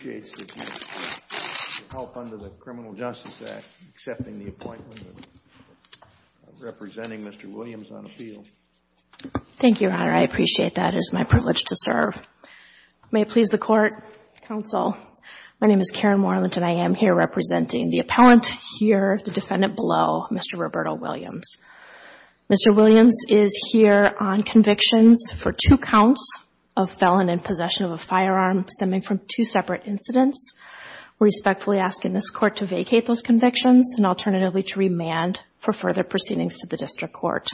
Thank you, Your Honor. I appreciate that. It is my privilege to serve. May it please the Court, Counsel, my name is Karen Moreland and I am here representing the appellant here, the defendant below, Mr. Roberto Williams. Mr. Williams is here on convictions for two counts of felon in possession of a firearm stemming from two separate incidents. We respectfully ask in this Court to vacate those convictions and alternatively to remand for further proceedings to the District Court.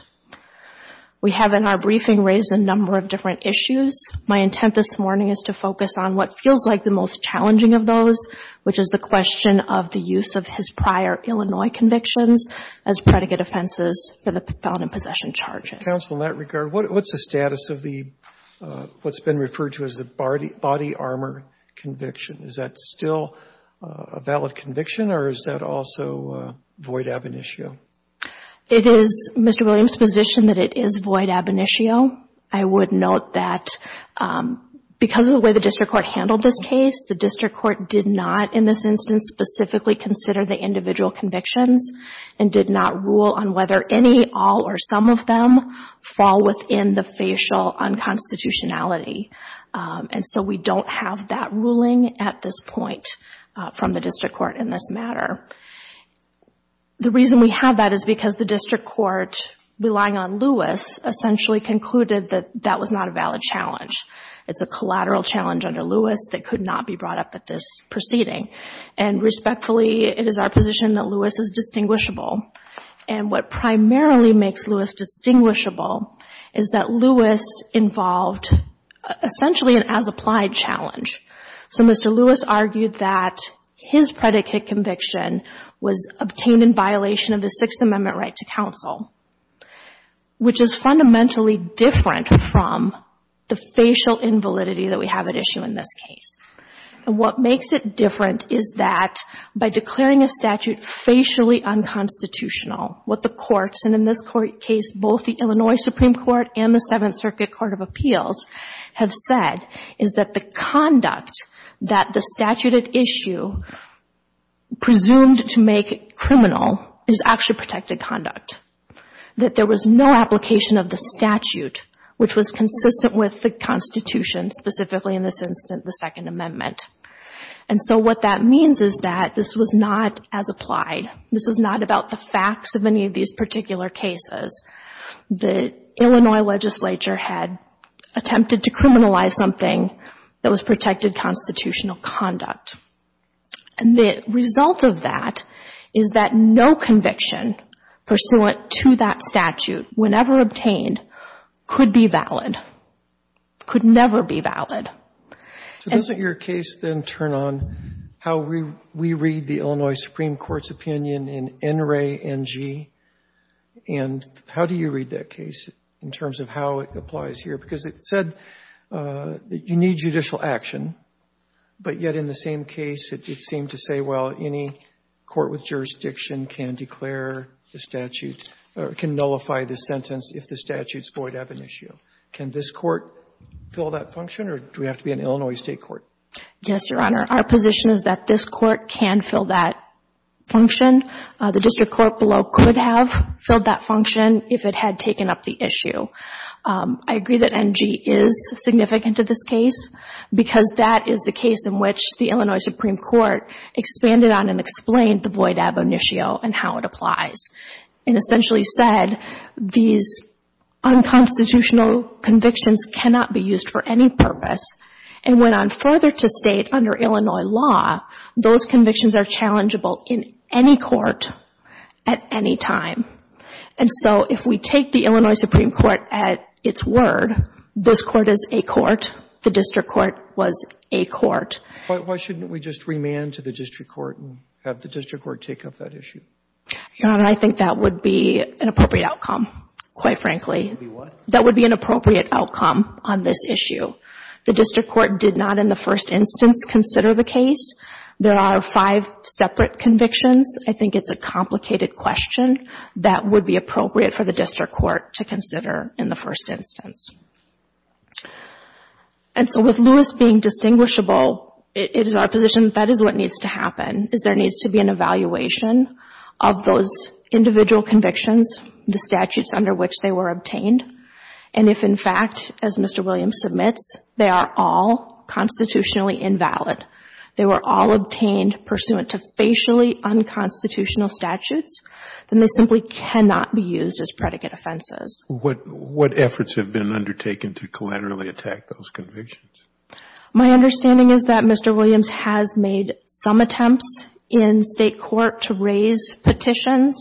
We have in our briefing raised a number of different issues. My intent this morning is to focus on what feels like the most challenging of those, which is the question of the use of his prior Illinois convictions as predicate offenses for the felon in possession charges. Roberto Williams Counsel, in that regard, what's the status of what's been referred to as the body armor conviction? Is that still a valid conviction or is that also void ab initio? Karen Moreland It is Mr. Williams' position that it is void ab initio. I would note that because of the way the District Court handled this case, the District Court did not in this instance specifically consider the individual convictions and did not rule on whether any, all, or some of them fall within the facial unconstitutionality. We don't have that ruling at this point from the District Court in this matter. The reason we have that is because the District Court, relying on Lewis, essentially concluded that that was not a valid challenge. It's a collateral challenge under Lewis that could not be brought up at this proceeding. And respectfully, it is our position that Lewis is distinguishable. And what primarily makes Lewis distinguishable is that Lewis involved essentially an as-applied challenge. So Mr. Lewis argued that his predicate conviction was obtained in violation of the Sixth Amendment right to counsel, which is fundamentally different from the facial invalidity that we have at issue in this case. And what makes it different is that by declaring a statute facially unconstitutional, what the courts, and in this case both the Illinois Supreme Court and the Seventh Circuit Court of Appeals, have said is that the conduct that the statute at issue presumed to make criminal is actually protected conduct. That there was no application of the statute which was consistent with the Constitution, specifically in this instance the Second Amendment. And so what that means is that this was not as applied. This was not about the facts of any of these particular cases. The Illinois legislature had attempted to criminalize something that was protected constitutional conduct. And the result of that is that no conviction pursuant to that statute, whenever obtained, could be valid, could never be valid. Robertson So doesn't your case then turn on how we read the Illinois Supreme Court's opinion in NRA NG? And how do you read that case in terms of how it applies here? Because it said that you need judicial action, but yet in the same case it seemed to say, well, any court with jurisdiction can declare the statute, or can nullify the sentence if the statutes void ab initio. Can this court fill that function, or do we have to be an Illinois State court? O'Connell Yes, Your Honor. Our position is that this court can fill that function. The district court below could have filled that function if it had taken up the issue. I agree that NG is significant to this case, because that is the case in which the Illinois Supreme Court expanded on and explained the void ab initio and how it applies. It essentially said these unconstitutional convictions cannot be used for any purpose, and went on further to state under Illinois law, those convictions are challengeable in any court at any time. And so if we take the Illinois Supreme Court at its word, this court is a court, the district court was a court. Roberts Why shouldn't we just remand to the district court and have the district court take up that issue? O'Connell Your Honor, I think that would be an appropriate outcome, quite frankly. Roberts That would be what? O'Connell That would be an appropriate outcome on this issue. The district court did not in the first instance consider the case. There are five separate convictions. I think it's a complicated question that would be appropriate for the district court to consider in the first instance. And so with Lewis being distinguishable, it is our position that that is what needs to happen, is there needs to be an evaluation of those individual convictions, the statutes under which they were obtained. And if in fact, as Mr. Williams submits, they are all constitutionally invalid, they were all obtained pursuant to facially unconstitutional statutes, then they simply cannot be used as predicate offenses. Roberts What efforts have been undertaken to collaterally attack those convictions? O'Connell My understanding is that Mr. Williams has made some attempts in state court to raise petitions.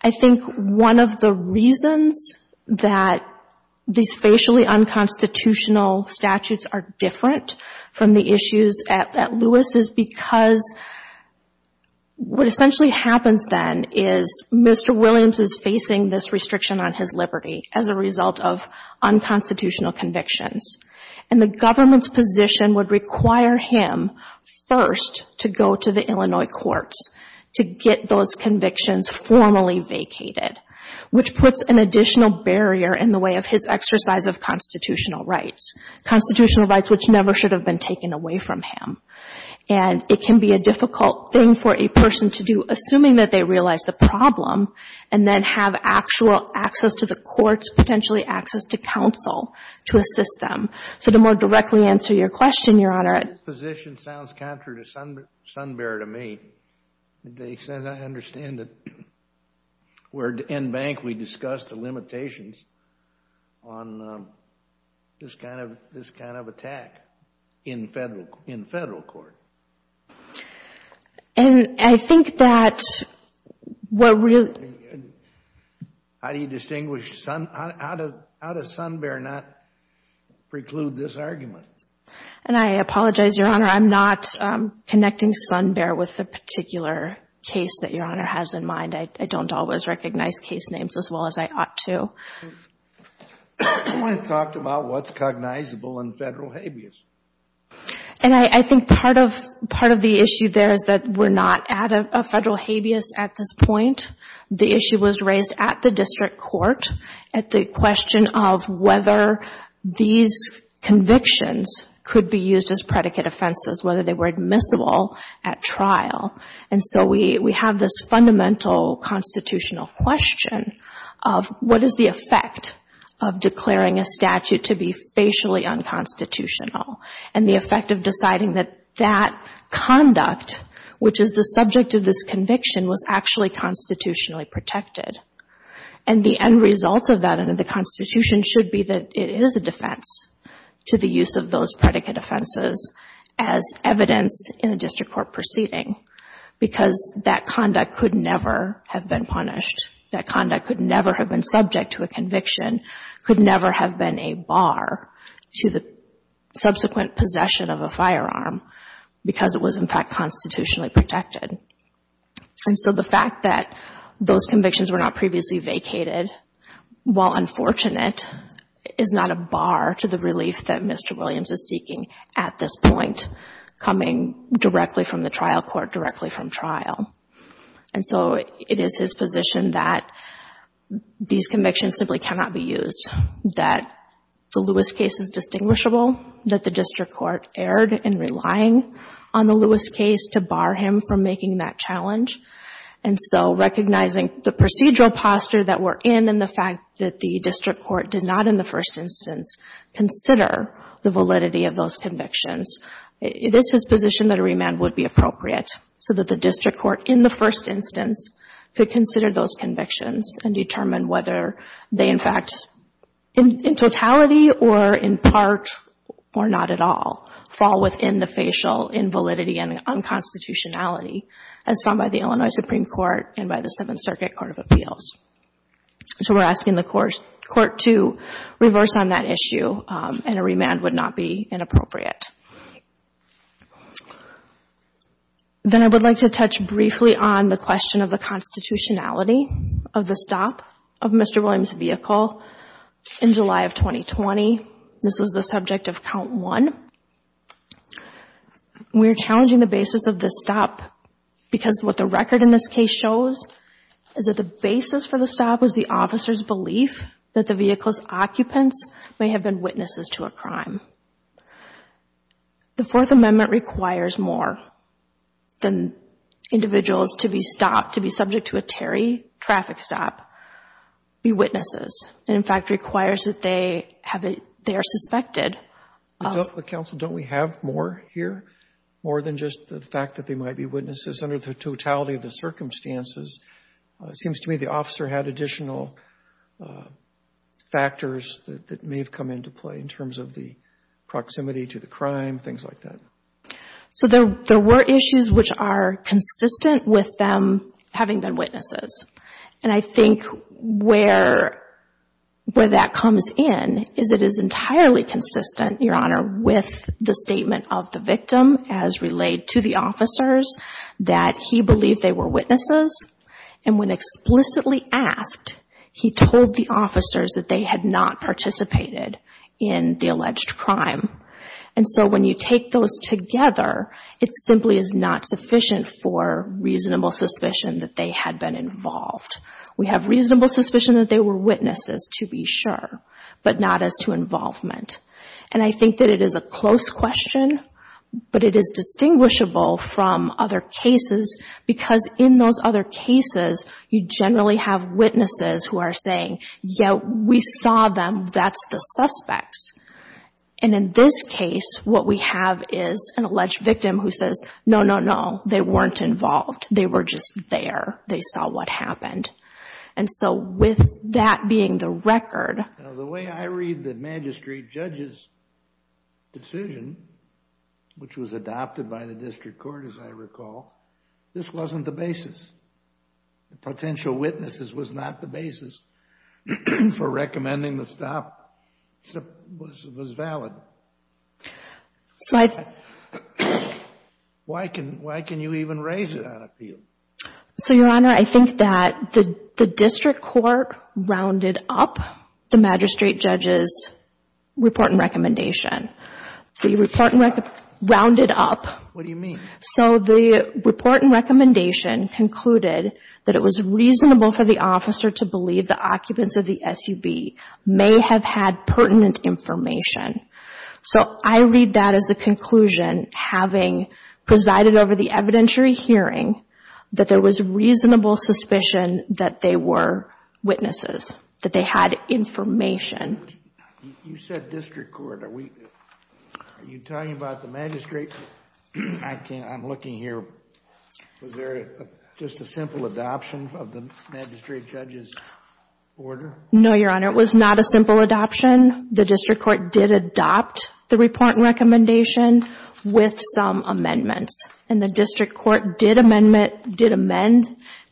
I think one of the reasons that these facially unconstitutional statutes are different from the issues at Lewis is because what essentially happens then is Mr. Williams is facing this restriction on his liberty as a result of unconstitutional convictions. And the government's position would require him first to go to the Illinois courts to get those convictions formally vacated, which puts an additional barrier in the way of his exercise of constitutional rights, constitutional rights. It's a difficult thing for a person to do, assuming that they realize the problem and then have actual access to the courts, potentially access to counsel to assist them. So to more directly answer your question, Your Honor. Kennedy This position sounds contrary to sun bearer to me. To the extent I understand it, we're in bank, we discussed the limitations on this kind of attack in federal court. O'Connell And I think that what really Kennedy How do you distinguish, how does sun bearer not preclude this argument? O'Connell And I apologize, Your Honor. I'm not connecting sun bearer with the particular case that Your Honor has in mind. I don't always recognize case names as well as I ought to. Kennedy I want to talk about what's cognizable in federal habeas. O'Connell And I think part of the issue there is that we're not at a federal habeas at this point. The issue was raised at the district court at the question of whether these convictions could be used as predicate offenses, whether they were admissible at trial. And so we have this fundamental constitutional question of what is the effect of declaring a statute to be facially unconstitutional and the effect of deciding that that conduct, which is the subject of this conviction, was actually constitutionally protected. And the end result of that under the Constitution should be that it is a defense to the use of those predicate offenses as evidence in a district court proceeding because that conduct could never have been punished. That conduct could never have been subject to a conviction, could never have been a bar to the subsequent possession of a firearm because it was in fact constitutionally protected. And so the fact that those convictions were not previously vacated, while unfortunate, is not a bar to the relief that Mr. Williams is seeking at this point coming directly from the trial court, directly from trial. And so it is his position that these convictions simply cannot be used, that the Lewis case is distinguishable, that the district court erred in relying on the Lewis case to bar him from making that challenge. And so recognizing the procedural posture that we're in and the fact that the district court did not in the first instance consider the validity of those convictions, it is his position that a remand would be appropriate so that the district court in the first instance could consider those convictions and determine whether they in fact, in totality or in part or not at all, fall within the facial invalidity and unconstitutionality as found by the Illinois Supreme Court and by the Seventh Circuit Court of Appeals. So we're asking the court to reverse on that issue and a remand would not be inappropriate. Then I would like to touch briefly on the question of the constitutionality of the stop of Mr. Williams' vehicle in July of 2020. This was the subject of count one. We're challenging the basis of this stop because what the record in this case shows is that the basis for the stop was the officer's belief that the vehicle's occupants may have been witnesses to a crime. The Fourth Amendment requires more than individuals to be stopped, to be subject to a Terry traffic stop, be witnesses. It in fact requires that they have a, they are suspected of. But counsel, don't we have more here? More than just the fact that they might be witnesses under the totality of the circumstances? It seems to me the officer had additional factors that may have come into play in terms of the proximity to the crime, things like that. So there were issues which are consistent with them having been witnesses. And I think where that comes in is it is entirely consistent, Your Honor, with the statement of the victim as relayed to the officers that he believed they were witnesses. And when explicitly asked, he told the officers that they had not participated in the alleged crime. And so when you take those together, it simply is not sufficient for reasonable suspicion that they had been involved. We have reasonable suspicion that they were witnesses, to be sure, but not as to involvement. And I think that it is a close question, but it is distinguishable from other cases because in those other cases, you generally have witnesses who are saying, yeah, we saw them, that's the suspects. And in this case, what we have is an alleged victim who says, no, no, no, they weren't involved. They were just there. They saw what happened. And so with that being the record... Now, the way I read the magistrate judge's decision, which was adopted by the district court, as I recall, this wasn't the basis. Potential witnesses was not the basis for recommending the stop. It was valid. Why can you even raise it on appeal? So, Your Honor, I think that the district court rounded up the magistrate judge's report and recommendation. The report and recommendation... Rounded up. What do you mean? So the report and recommendation concluded that it was reasonable for the officer to believe the occupants of the SUB may have had pertinent information. So I read that as a conclusion, having presided over the evidentiary hearing, that there was reasonable suspicion that they were witnesses, that they had information. You said district court. Are you talking about the magistrate? I'm looking here. Was there just a simple adoption of the magistrate judge's order? No, Your Honor. It was not a simple adoption. The district court did adopt the report and recommendation with some amendments. And the district court did amend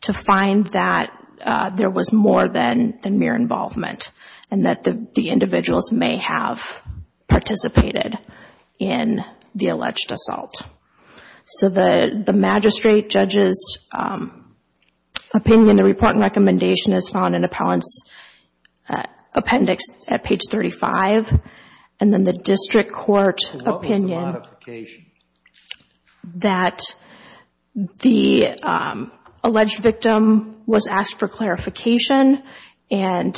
to find that there was more than mere involvement and that the individuals may have participated in the alleged assault. So the magistrate judge's opinion, the report and recommendation, is found in appellant's appendix at page 35. And then the district court opinion... So what was the modification? That the alleged victim was asked for clarification and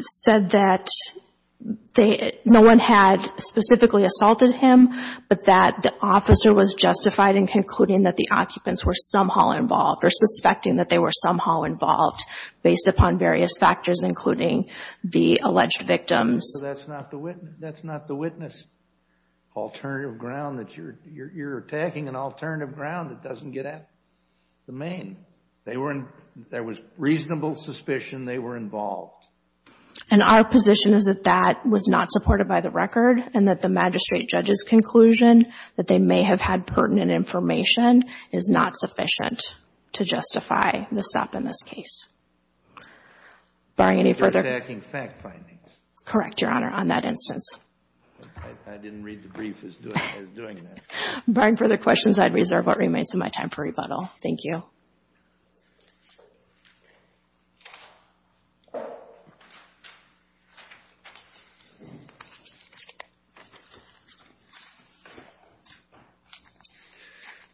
said that no one had specifically assaulted him, but that the officer was justified in concluding that the occupants were somehow involved or suspecting that they were somehow involved based upon various factors, including the alleged victims. So that's not the witness alternative ground that you're attacking, an alternative ground that doesn't get at the main. There was reasonable suspicion they were involved. And our position is that that was not supported by the record and that the magistrate judge's conclusion that they may have had pertinent information is not sufficient to justify the stop in this case. Barring any further... You're attacking fact findings. Correct, Your Honor, on that instance. I didn't read the brief as doing that. Barring further questions, I'd reserve what remains of my time for rebuttal. Thank you.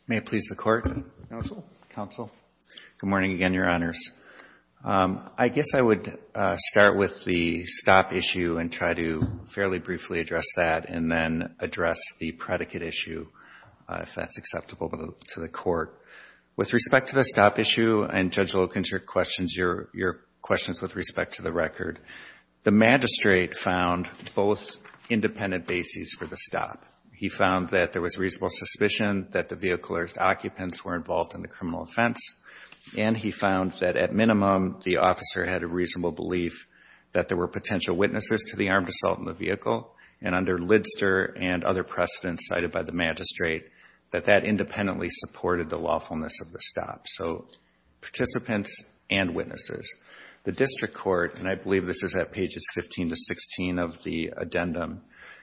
May it please the Court. Counsel. Counsel. Good morning again, Your Honors. I guess I would start with the stop issue and try to fairly briefly address that and then address the predicate issue if that's acceptable to the Court. With respect to the stop issue and Judge Loken's questions, your questions with respect to the record, the magistrate found both independent bases for the stop. He found that there was reasonable suspicion that the vehicler's occupants were involved in the criminal offense. And he found that, at minimum, the officer had a reasonable belief that there were potential witnesses to the armed assault in the vehicle. And under Lidster and other precedents cited by the magistrate, that that independently supported the lawfulness of the stop. So, participants and witnesses. The District Court, and I believe this is at pages 15 to 16 of the addendum,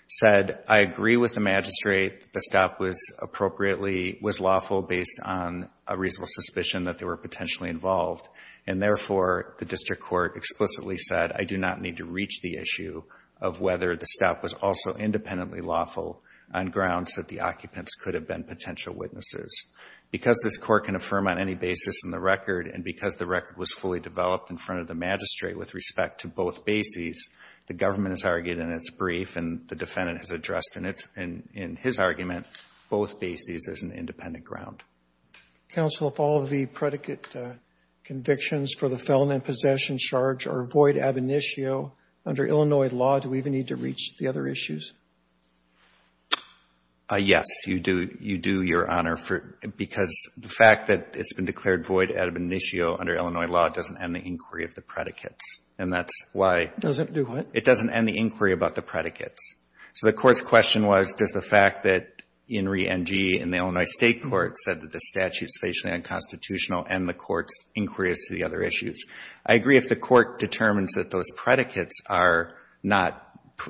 said, I agree with the magistrate, the stop was appropriately, was lawful based on a reasonable suspicion that they were potentially involved. And therefore, the District Court explicitly said, I do not need to reach the issue of whether the stop was also independently lawful on grounds that the occupants could have been potential witnesses. Because this Court can affirm on any basis in the record, and because the record was fully developed in front of the magistrate with respect to both bases, the government has argued in its brief, and the defendant has addressed in its, in his argument, both bases as an independent ground. Counsel, if all of the predicate convictions for the felon and possession charge are void ab initio, under Illinois law, do we even need to reach the other issues? Yes, you do, you do, Your Honor, for, because the fact that it's been declared void ab initio under Illinois law doesn't end the inquiry of the predicates. And that's why. Doesn't do what? It doesn't end the inquiry about the predicates. So, the Court's question was, does the fact that, in re NG, in the Illinois State Court, said that the statute's facially unconstitutional and the Court's inquiry is to the other issues. I agree if the Court determines that those predicates are not,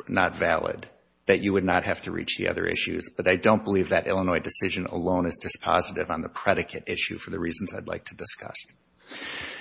not valid, that you would not have to reach the other issues, but I don't believe that Illinois decision alone is dispositive on the predicate issue for the reasons I'd like to discuss.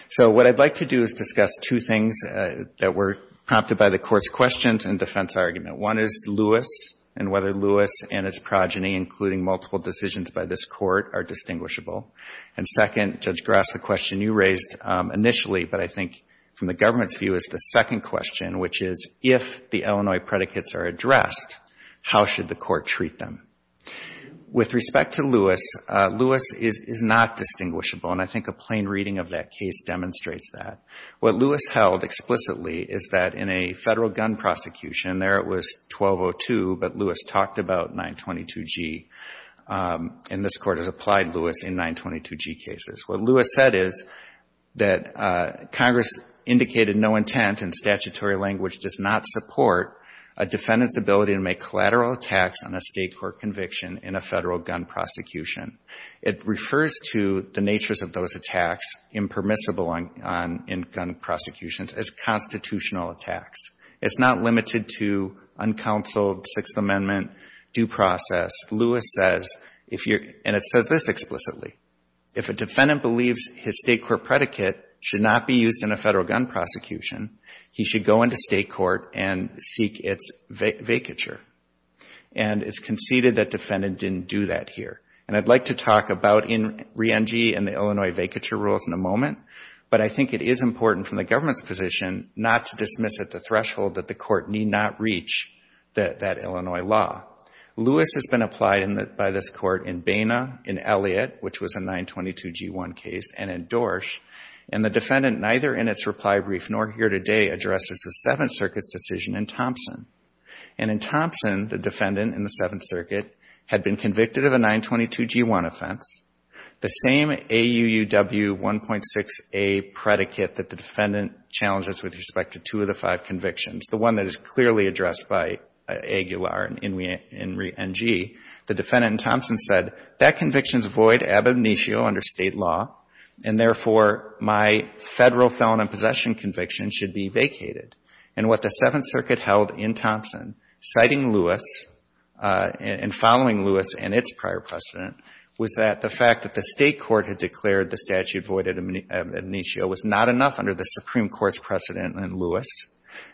So, what I'd like to do is discuss two things that were prompted by the Court's questions and defense argument. One is Lewis, and whether Lewis and his progeny, including multiple decisions by this Court, are distinguishable. And second, Judge Grass, the question you raised initially, but I think from the government's view, is the second question, which is, if the Illinois predicates are addressed, how should the Court treat them? With respect to Lewis, Lewis is not distinguishable, and I think a plain reading of that case demonstrates that. What Lewis held explicitly is that in a federal gun prosecution, there it was 1202, but Lewis talked about 922G. And this Court has applied Lewis in 922G cases. What Lewis said is that Congress indicated no intent and statutory language does not support a defendant's ability to make collateral attacks on a State court conviction in a federal gun prosecution. It refers to the natures of those attacks, impermissible in gun prosecutions, as constitutional attacks. It's not limited to uncounseled Sixth Amendment due process. Lewis says, and it says this explicitly, if a defendant believes his State court predicate should not be used in a federal gun prosecution, he should go into State court and seek its vacature. And it's conceded that defendant didn't do that here. And I'd like to talk about re-NG and the Illinois vacature rules in a moment, but I think it is important from the government's position not to dismiss at the threshold that the Court need not reach that Illinois law. Lewis has been applied by this Court in Baina, in Elliott, which was a 922G1 case, and in Dorsch. And the defendant neither in its reply brief nor here today addresses the Seventh Circuit's decision in Thompson. And in Thompson, the defendant in the Seventh Circuit had been convicted of a 922G1 offense, the same AUUW 1.6A predicate that the defendant challenges with respect to two of the five convictions, the one that is clearly addressed by Aguilar and re-NG. The defendant in Thompson said, that conviction's void ab initio under State law, and therefore, my Federal felon in possession conviction should be vacated. And what the Seventh Circuit held in Thompson, citing Lewis and following Lewis and its prior precedent, was that the fact that the State court had declared the statute void ab initio was not enough under the Supreme Court's precedent in Lewis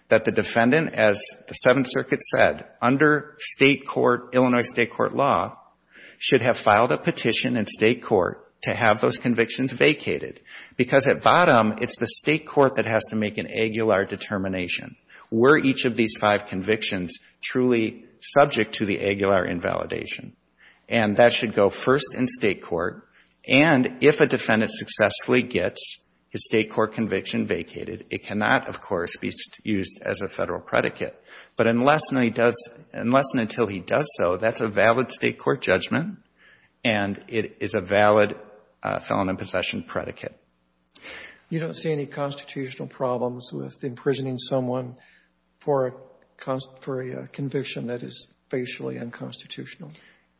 that the defendant, as the Seventh Circuit said, under State court, Illinois State court law, should have filed a petition in State court to have those convictions vacated. Because at bottom, it's the State court that has to make an Aguilar determination. Were each of these five convictions truly subject to the Aguilar invalidation? And that should go first in State court. And if a defendant successfully gets his State court conviction vacated, it cannot, of course, be used as a Federal predicate. But unless and until he does so, that's a valid State court judgment, and it is a valid felon in possession predicate. Robertson, you don't see any constitutional problems with imprisoning someone for a conviction that is facially unconstitutional?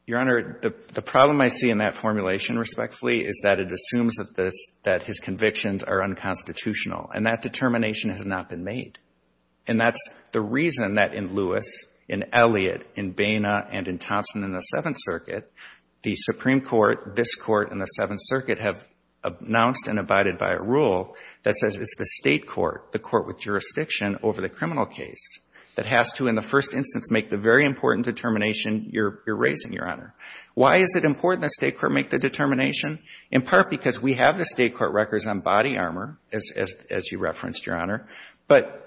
Your Honor, the problem I see in that formulation, respectfully, is that it assumes that his convictions are unconstitutional. And that determination has not been made. And that's the reason that in Lewis, in Elliott, in Boehner, and in Thompson in the Seventh Circuit, the Supreme Court, this Court, and the Seventh Circuit have announced and abided by a rule that says it's the State court, the court with jurisdiction over the criminal case, that has to, in the first instance, make the very important determination you're raising, Your Honor. Why is it important the State court make the determination? In part, because we have the State court records on body armor, as you referenced, Your Honor. But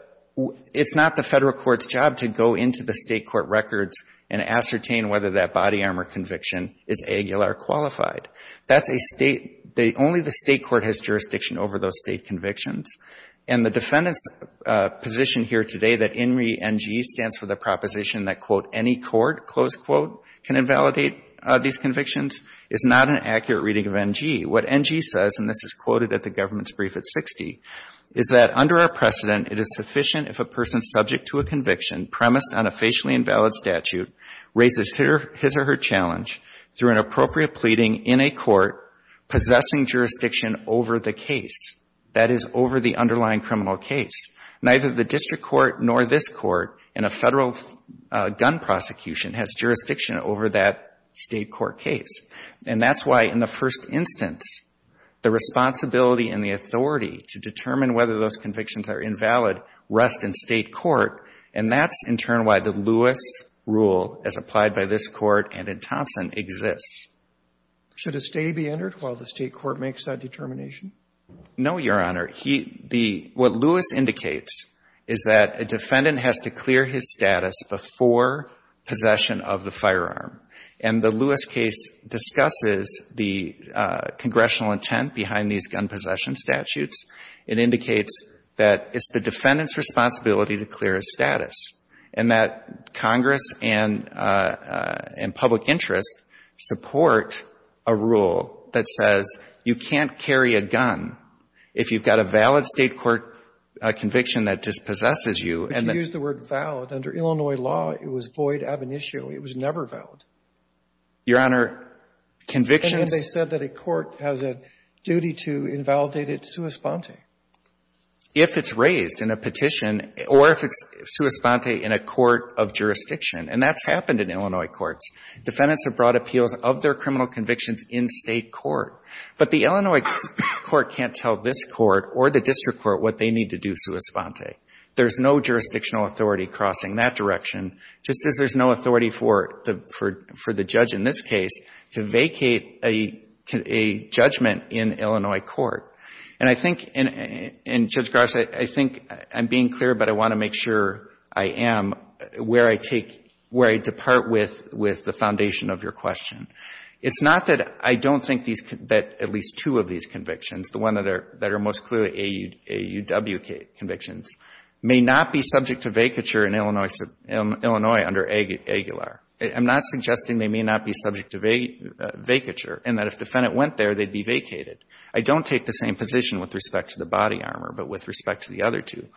it's not the Federal court's job to go into the State court records and ascertain whether that body armor conviction is AGULA or qualified. That's a State, only the State court has jurisdiction over those State convictions. And the defendant's position here today, that INRI NG stands for the proposition that, quote, any court, close quote, can invalidate these convictions, is not an accurate reading of NG. What NG says, and this is quoted at the government's brief at 60, is that under our precedent, it is sufficient if a person subject to a conviction premised on a facially invalid statute raises his or her challenge through an appropriate pleading in a court possessing jurisdiction over the case, that is, over the underlying criminal case. Neither the district court nor this court in a Federal gun prosecution has jurisdiction over that State court case. And that's why, in the first instance, the responsibility and the authority to determine whether those convictions are invalid rest in State court, and that's, in turn, why the Lewis rule, as applied by this court and in Thompson, exists. Should a stay be entered while the State court makes that determination? No, Your Honor. What Lewis indicates is that a defendant has to clear his status before possession of the firearm. And the Lewis case discusses the congressional intent behind these gun possession statutes. It indicates that it's the defendant's responsibility to clear his status, and that Congress and public interest support a rule that says you can't carry a gun if you've got a valid State court conviction that dispossesses you. And then you use the word valid. Under Illinois law, it was void ab initio. It was never valid. Your Honor, convictions. And then they said that a court has a duty to invalidate it sua sponte. If it's raised in a petition or if it's sua sponte in a court of jurisdiction, and that's happened in Illinois courts. Defendants have brought appeals of their criminal convictions in State court. But the Illinois court can't tell this court or the district court what they need to do sua sponte. There's no jurisdictional authority crossing that direction, just as there's no authority for the judge in this case to vacate a judgment in Illinois court. And I think, and Judge Garza, I think I'm being clear, but I want to make sure I am where I take, where I depart with the foundation of your question. It's not that I don't think that at least two of these convictions, the one that are most clearly AUW convictions, may not be subject to vacature in Illinois under Aguilar. I'm not suggesting they may not be subject to vacature, and that if the defendant went there, they'd be vacated. I don't take the same position with respect to the body armor, but with respect to the body armor,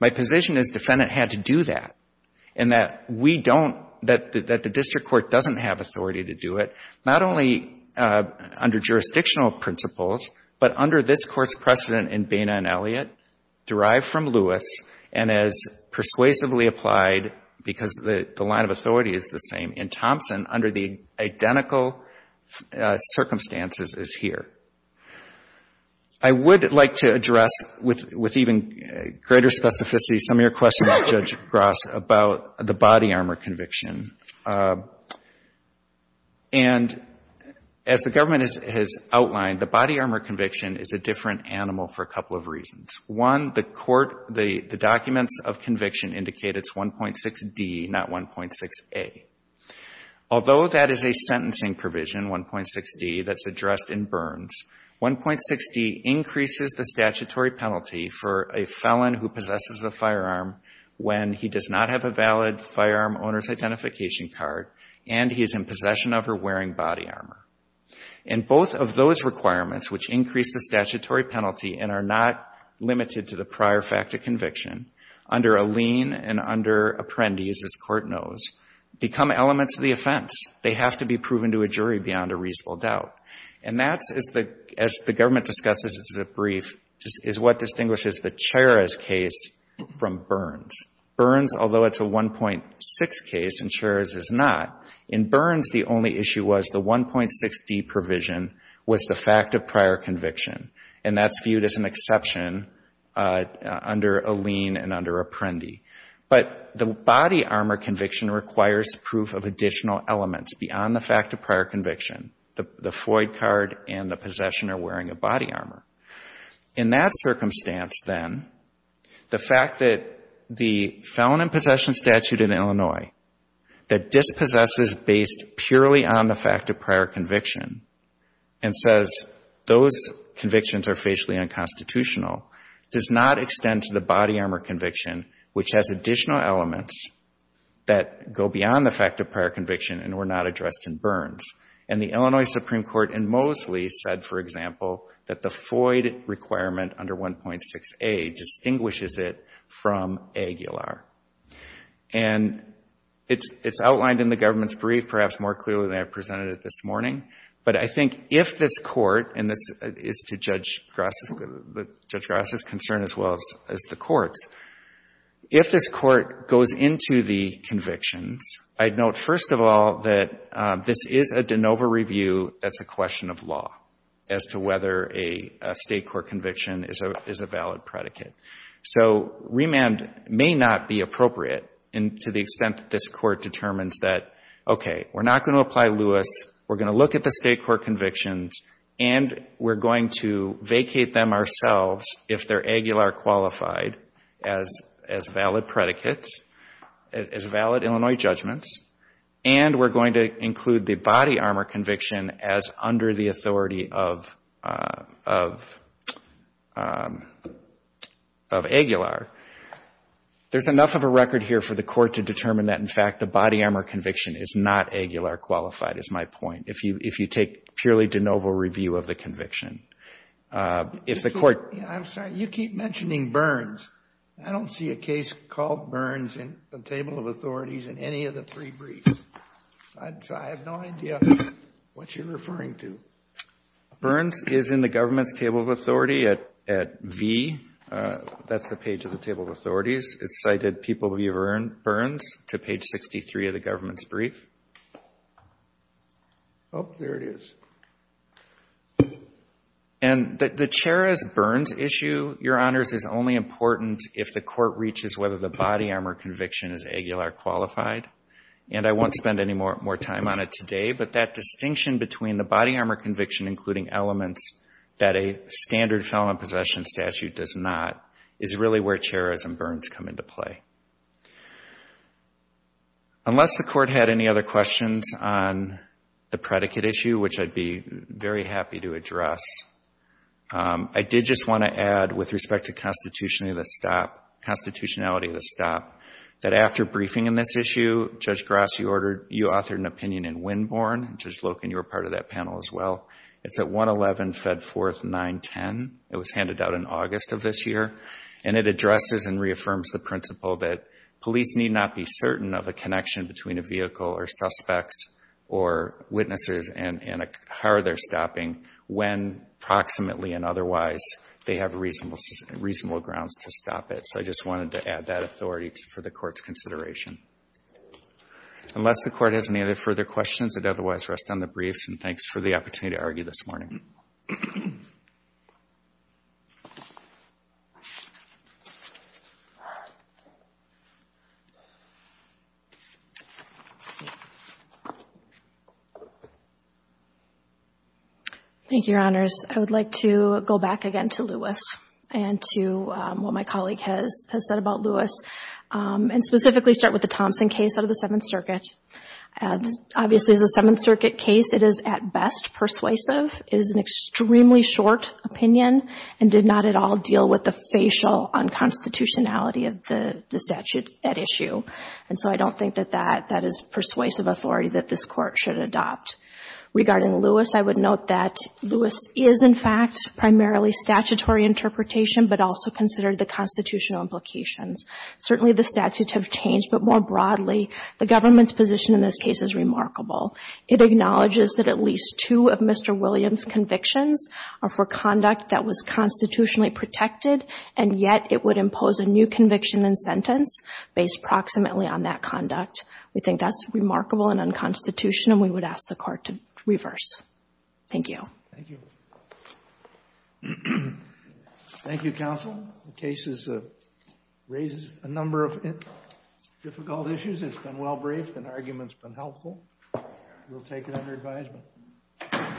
my position is defendant had to do that, and that we don't, that the district court doesn't have authority to do it, not only under jurisdictional principles, but under this Court's precedent in Boehner and Elliott, derived from Lewis, and as persuasively applied, because the line of authority is the same in Thompson, under the identical circumstances as here. I would like to address, with even greater specificity, some of your questions, Judge Garza, about the body armor conviction. And as the government has outlined, the body armor conviction is a different animal for a couple of reasons. One, the court, the documents of conviction indicate it's 1.6D, not 1.6A. Although that is a difference, 1.6D increases the statutory penalty for a felon who possesses a firearm when he does not have a valid firearm owner's identification card and he is in possession of or wearing body armor. And both of those requirements, which increase the statutory penalty and are not limited to the prior fact of conviction, under a lien and under apprentice, as court knows, become elements of the offense. They have to be proven to a jury beyond a reasonable doubt. And that's, as the government discusses in the brief, is what distinguishes the Charas case from Burns. Burns, although it's a 1.6 case and Charas is not, in Burns the only issue was the 1.6D provision was the fact of prior conviction. And that's viewed as an exception under a lien and under apprentice. But the body armor conviction requires proof of additional elements beyond the fact of prior conviction, the Floyd card and the possession or wearing of body armor. In that circumstance, then, the fact that the felon in possession statute in Illinois that dispossesses based purely on the fact of prior conviction and says those convictions are facially unconstitutional does not extend to the body armor conviction, which has additional elements that go beyond the fact of prior conviction and were not addressed in Burns. And the Illinois Supreme Court in Mosley said, for example, that the Floyd requirement under 1.6A distinguishes it from Aguilar. And it's outlined in the government's brief perhaps more clearly than I presented it this morning. But I think if this court, and this is to Judge Grasso's concern as well as the courts, if this court goes into the convictions, I'd note, first of all, that this is a de novo review that's a question of law as to whether a state court conviction is a valid predicate. So remand may not be appropriate to the extent that this court determines that, okay, we're not going to apply Lewis, we're going to look at the state court convictions, and we're going to vacate them ourselves if they're Aguilar qualified as valid predicates, as valid Illinois judgments, and we're going to include the body armor conviction as under the authority of Aguilar. There's enough of a record here for the court to determine that in fact the body armor conviction is not Aguilar qualified, is my point, if you take purely de novo review of the conviction. If the court ---- Kennedy. I'm sorry. You keep mentioning Burns. I don't see a case called Burns in the table of authorities in any of the three briefs. I have no idea what you're referring to. Burns is in the government's table of authority at V. That's the page of the table of authorities. It's cited people view Burns to page 63 of the government's brief. Oh, there it is. And the chair as Burns issue, Your Honors, is only important if the court reaches whether the body armor conviction is Aguilar qualified, and I won't spend any more time on it today, but that distinction between the body armor conviction, including elements that a standard felon possession statute does not, is really where chairs and Burns come into play. Unless the court had any other questions on the predicate issue, which I'd be very happy to address, I did just want to add with respect to constitutionality of the stop, that after briefing in this issue, Judge Gross, you authored an opinion in Winborn. Judge Loken, you were part of that panel as well. It's at 111 Fedforth 910. It was handed out in August of this year, and it addresses and reaffirms the principle that police need not be certain of a connection between a vehicle or suspects or witnesses and a car they're stopping when, approximately and otherwise, they have reasonable grounds to stop it. So I just wanted to add that authority for the court's consideration. Unless the court has any other further questions, I'd otherwise rest on the briefs, and thanks for the opportunity to argue this morning. Thank you, Your Honors. I would like to go back again to Lewis and to what my colleague has said about Lewis, and specifically start with the Thompson case out of the Seventh Circuit. Obviously, as a Seventh Circuit case, it is at best persuasive. It is an extremely short opinion and did not at all deal with the facial unconstitutionality of the statute at issue. And so I don't think that that is persuasive authority that this Court should adopt. Regarding Lewis, I would note that Lewis is, in fact, primarily statutory interpretation, but also considered the constitutional implications. Certainly, the statutes have changed, but more broadly, the government's position in this case is remarkable. It acknowledges that at least two of Mr. Williams' convictions are for conduct that was constitutionally protected, and yet it would impose a new conviction and sentence based proximately on that conduct. We think that's remarkable and unconstitutional, and we would ask the Court to reverse. Thank you. Thank you. Thank you, Counsel. The case raises a number of difficult issues. It's been well briefed, and the argument's been helpful. We'll take it under advisement.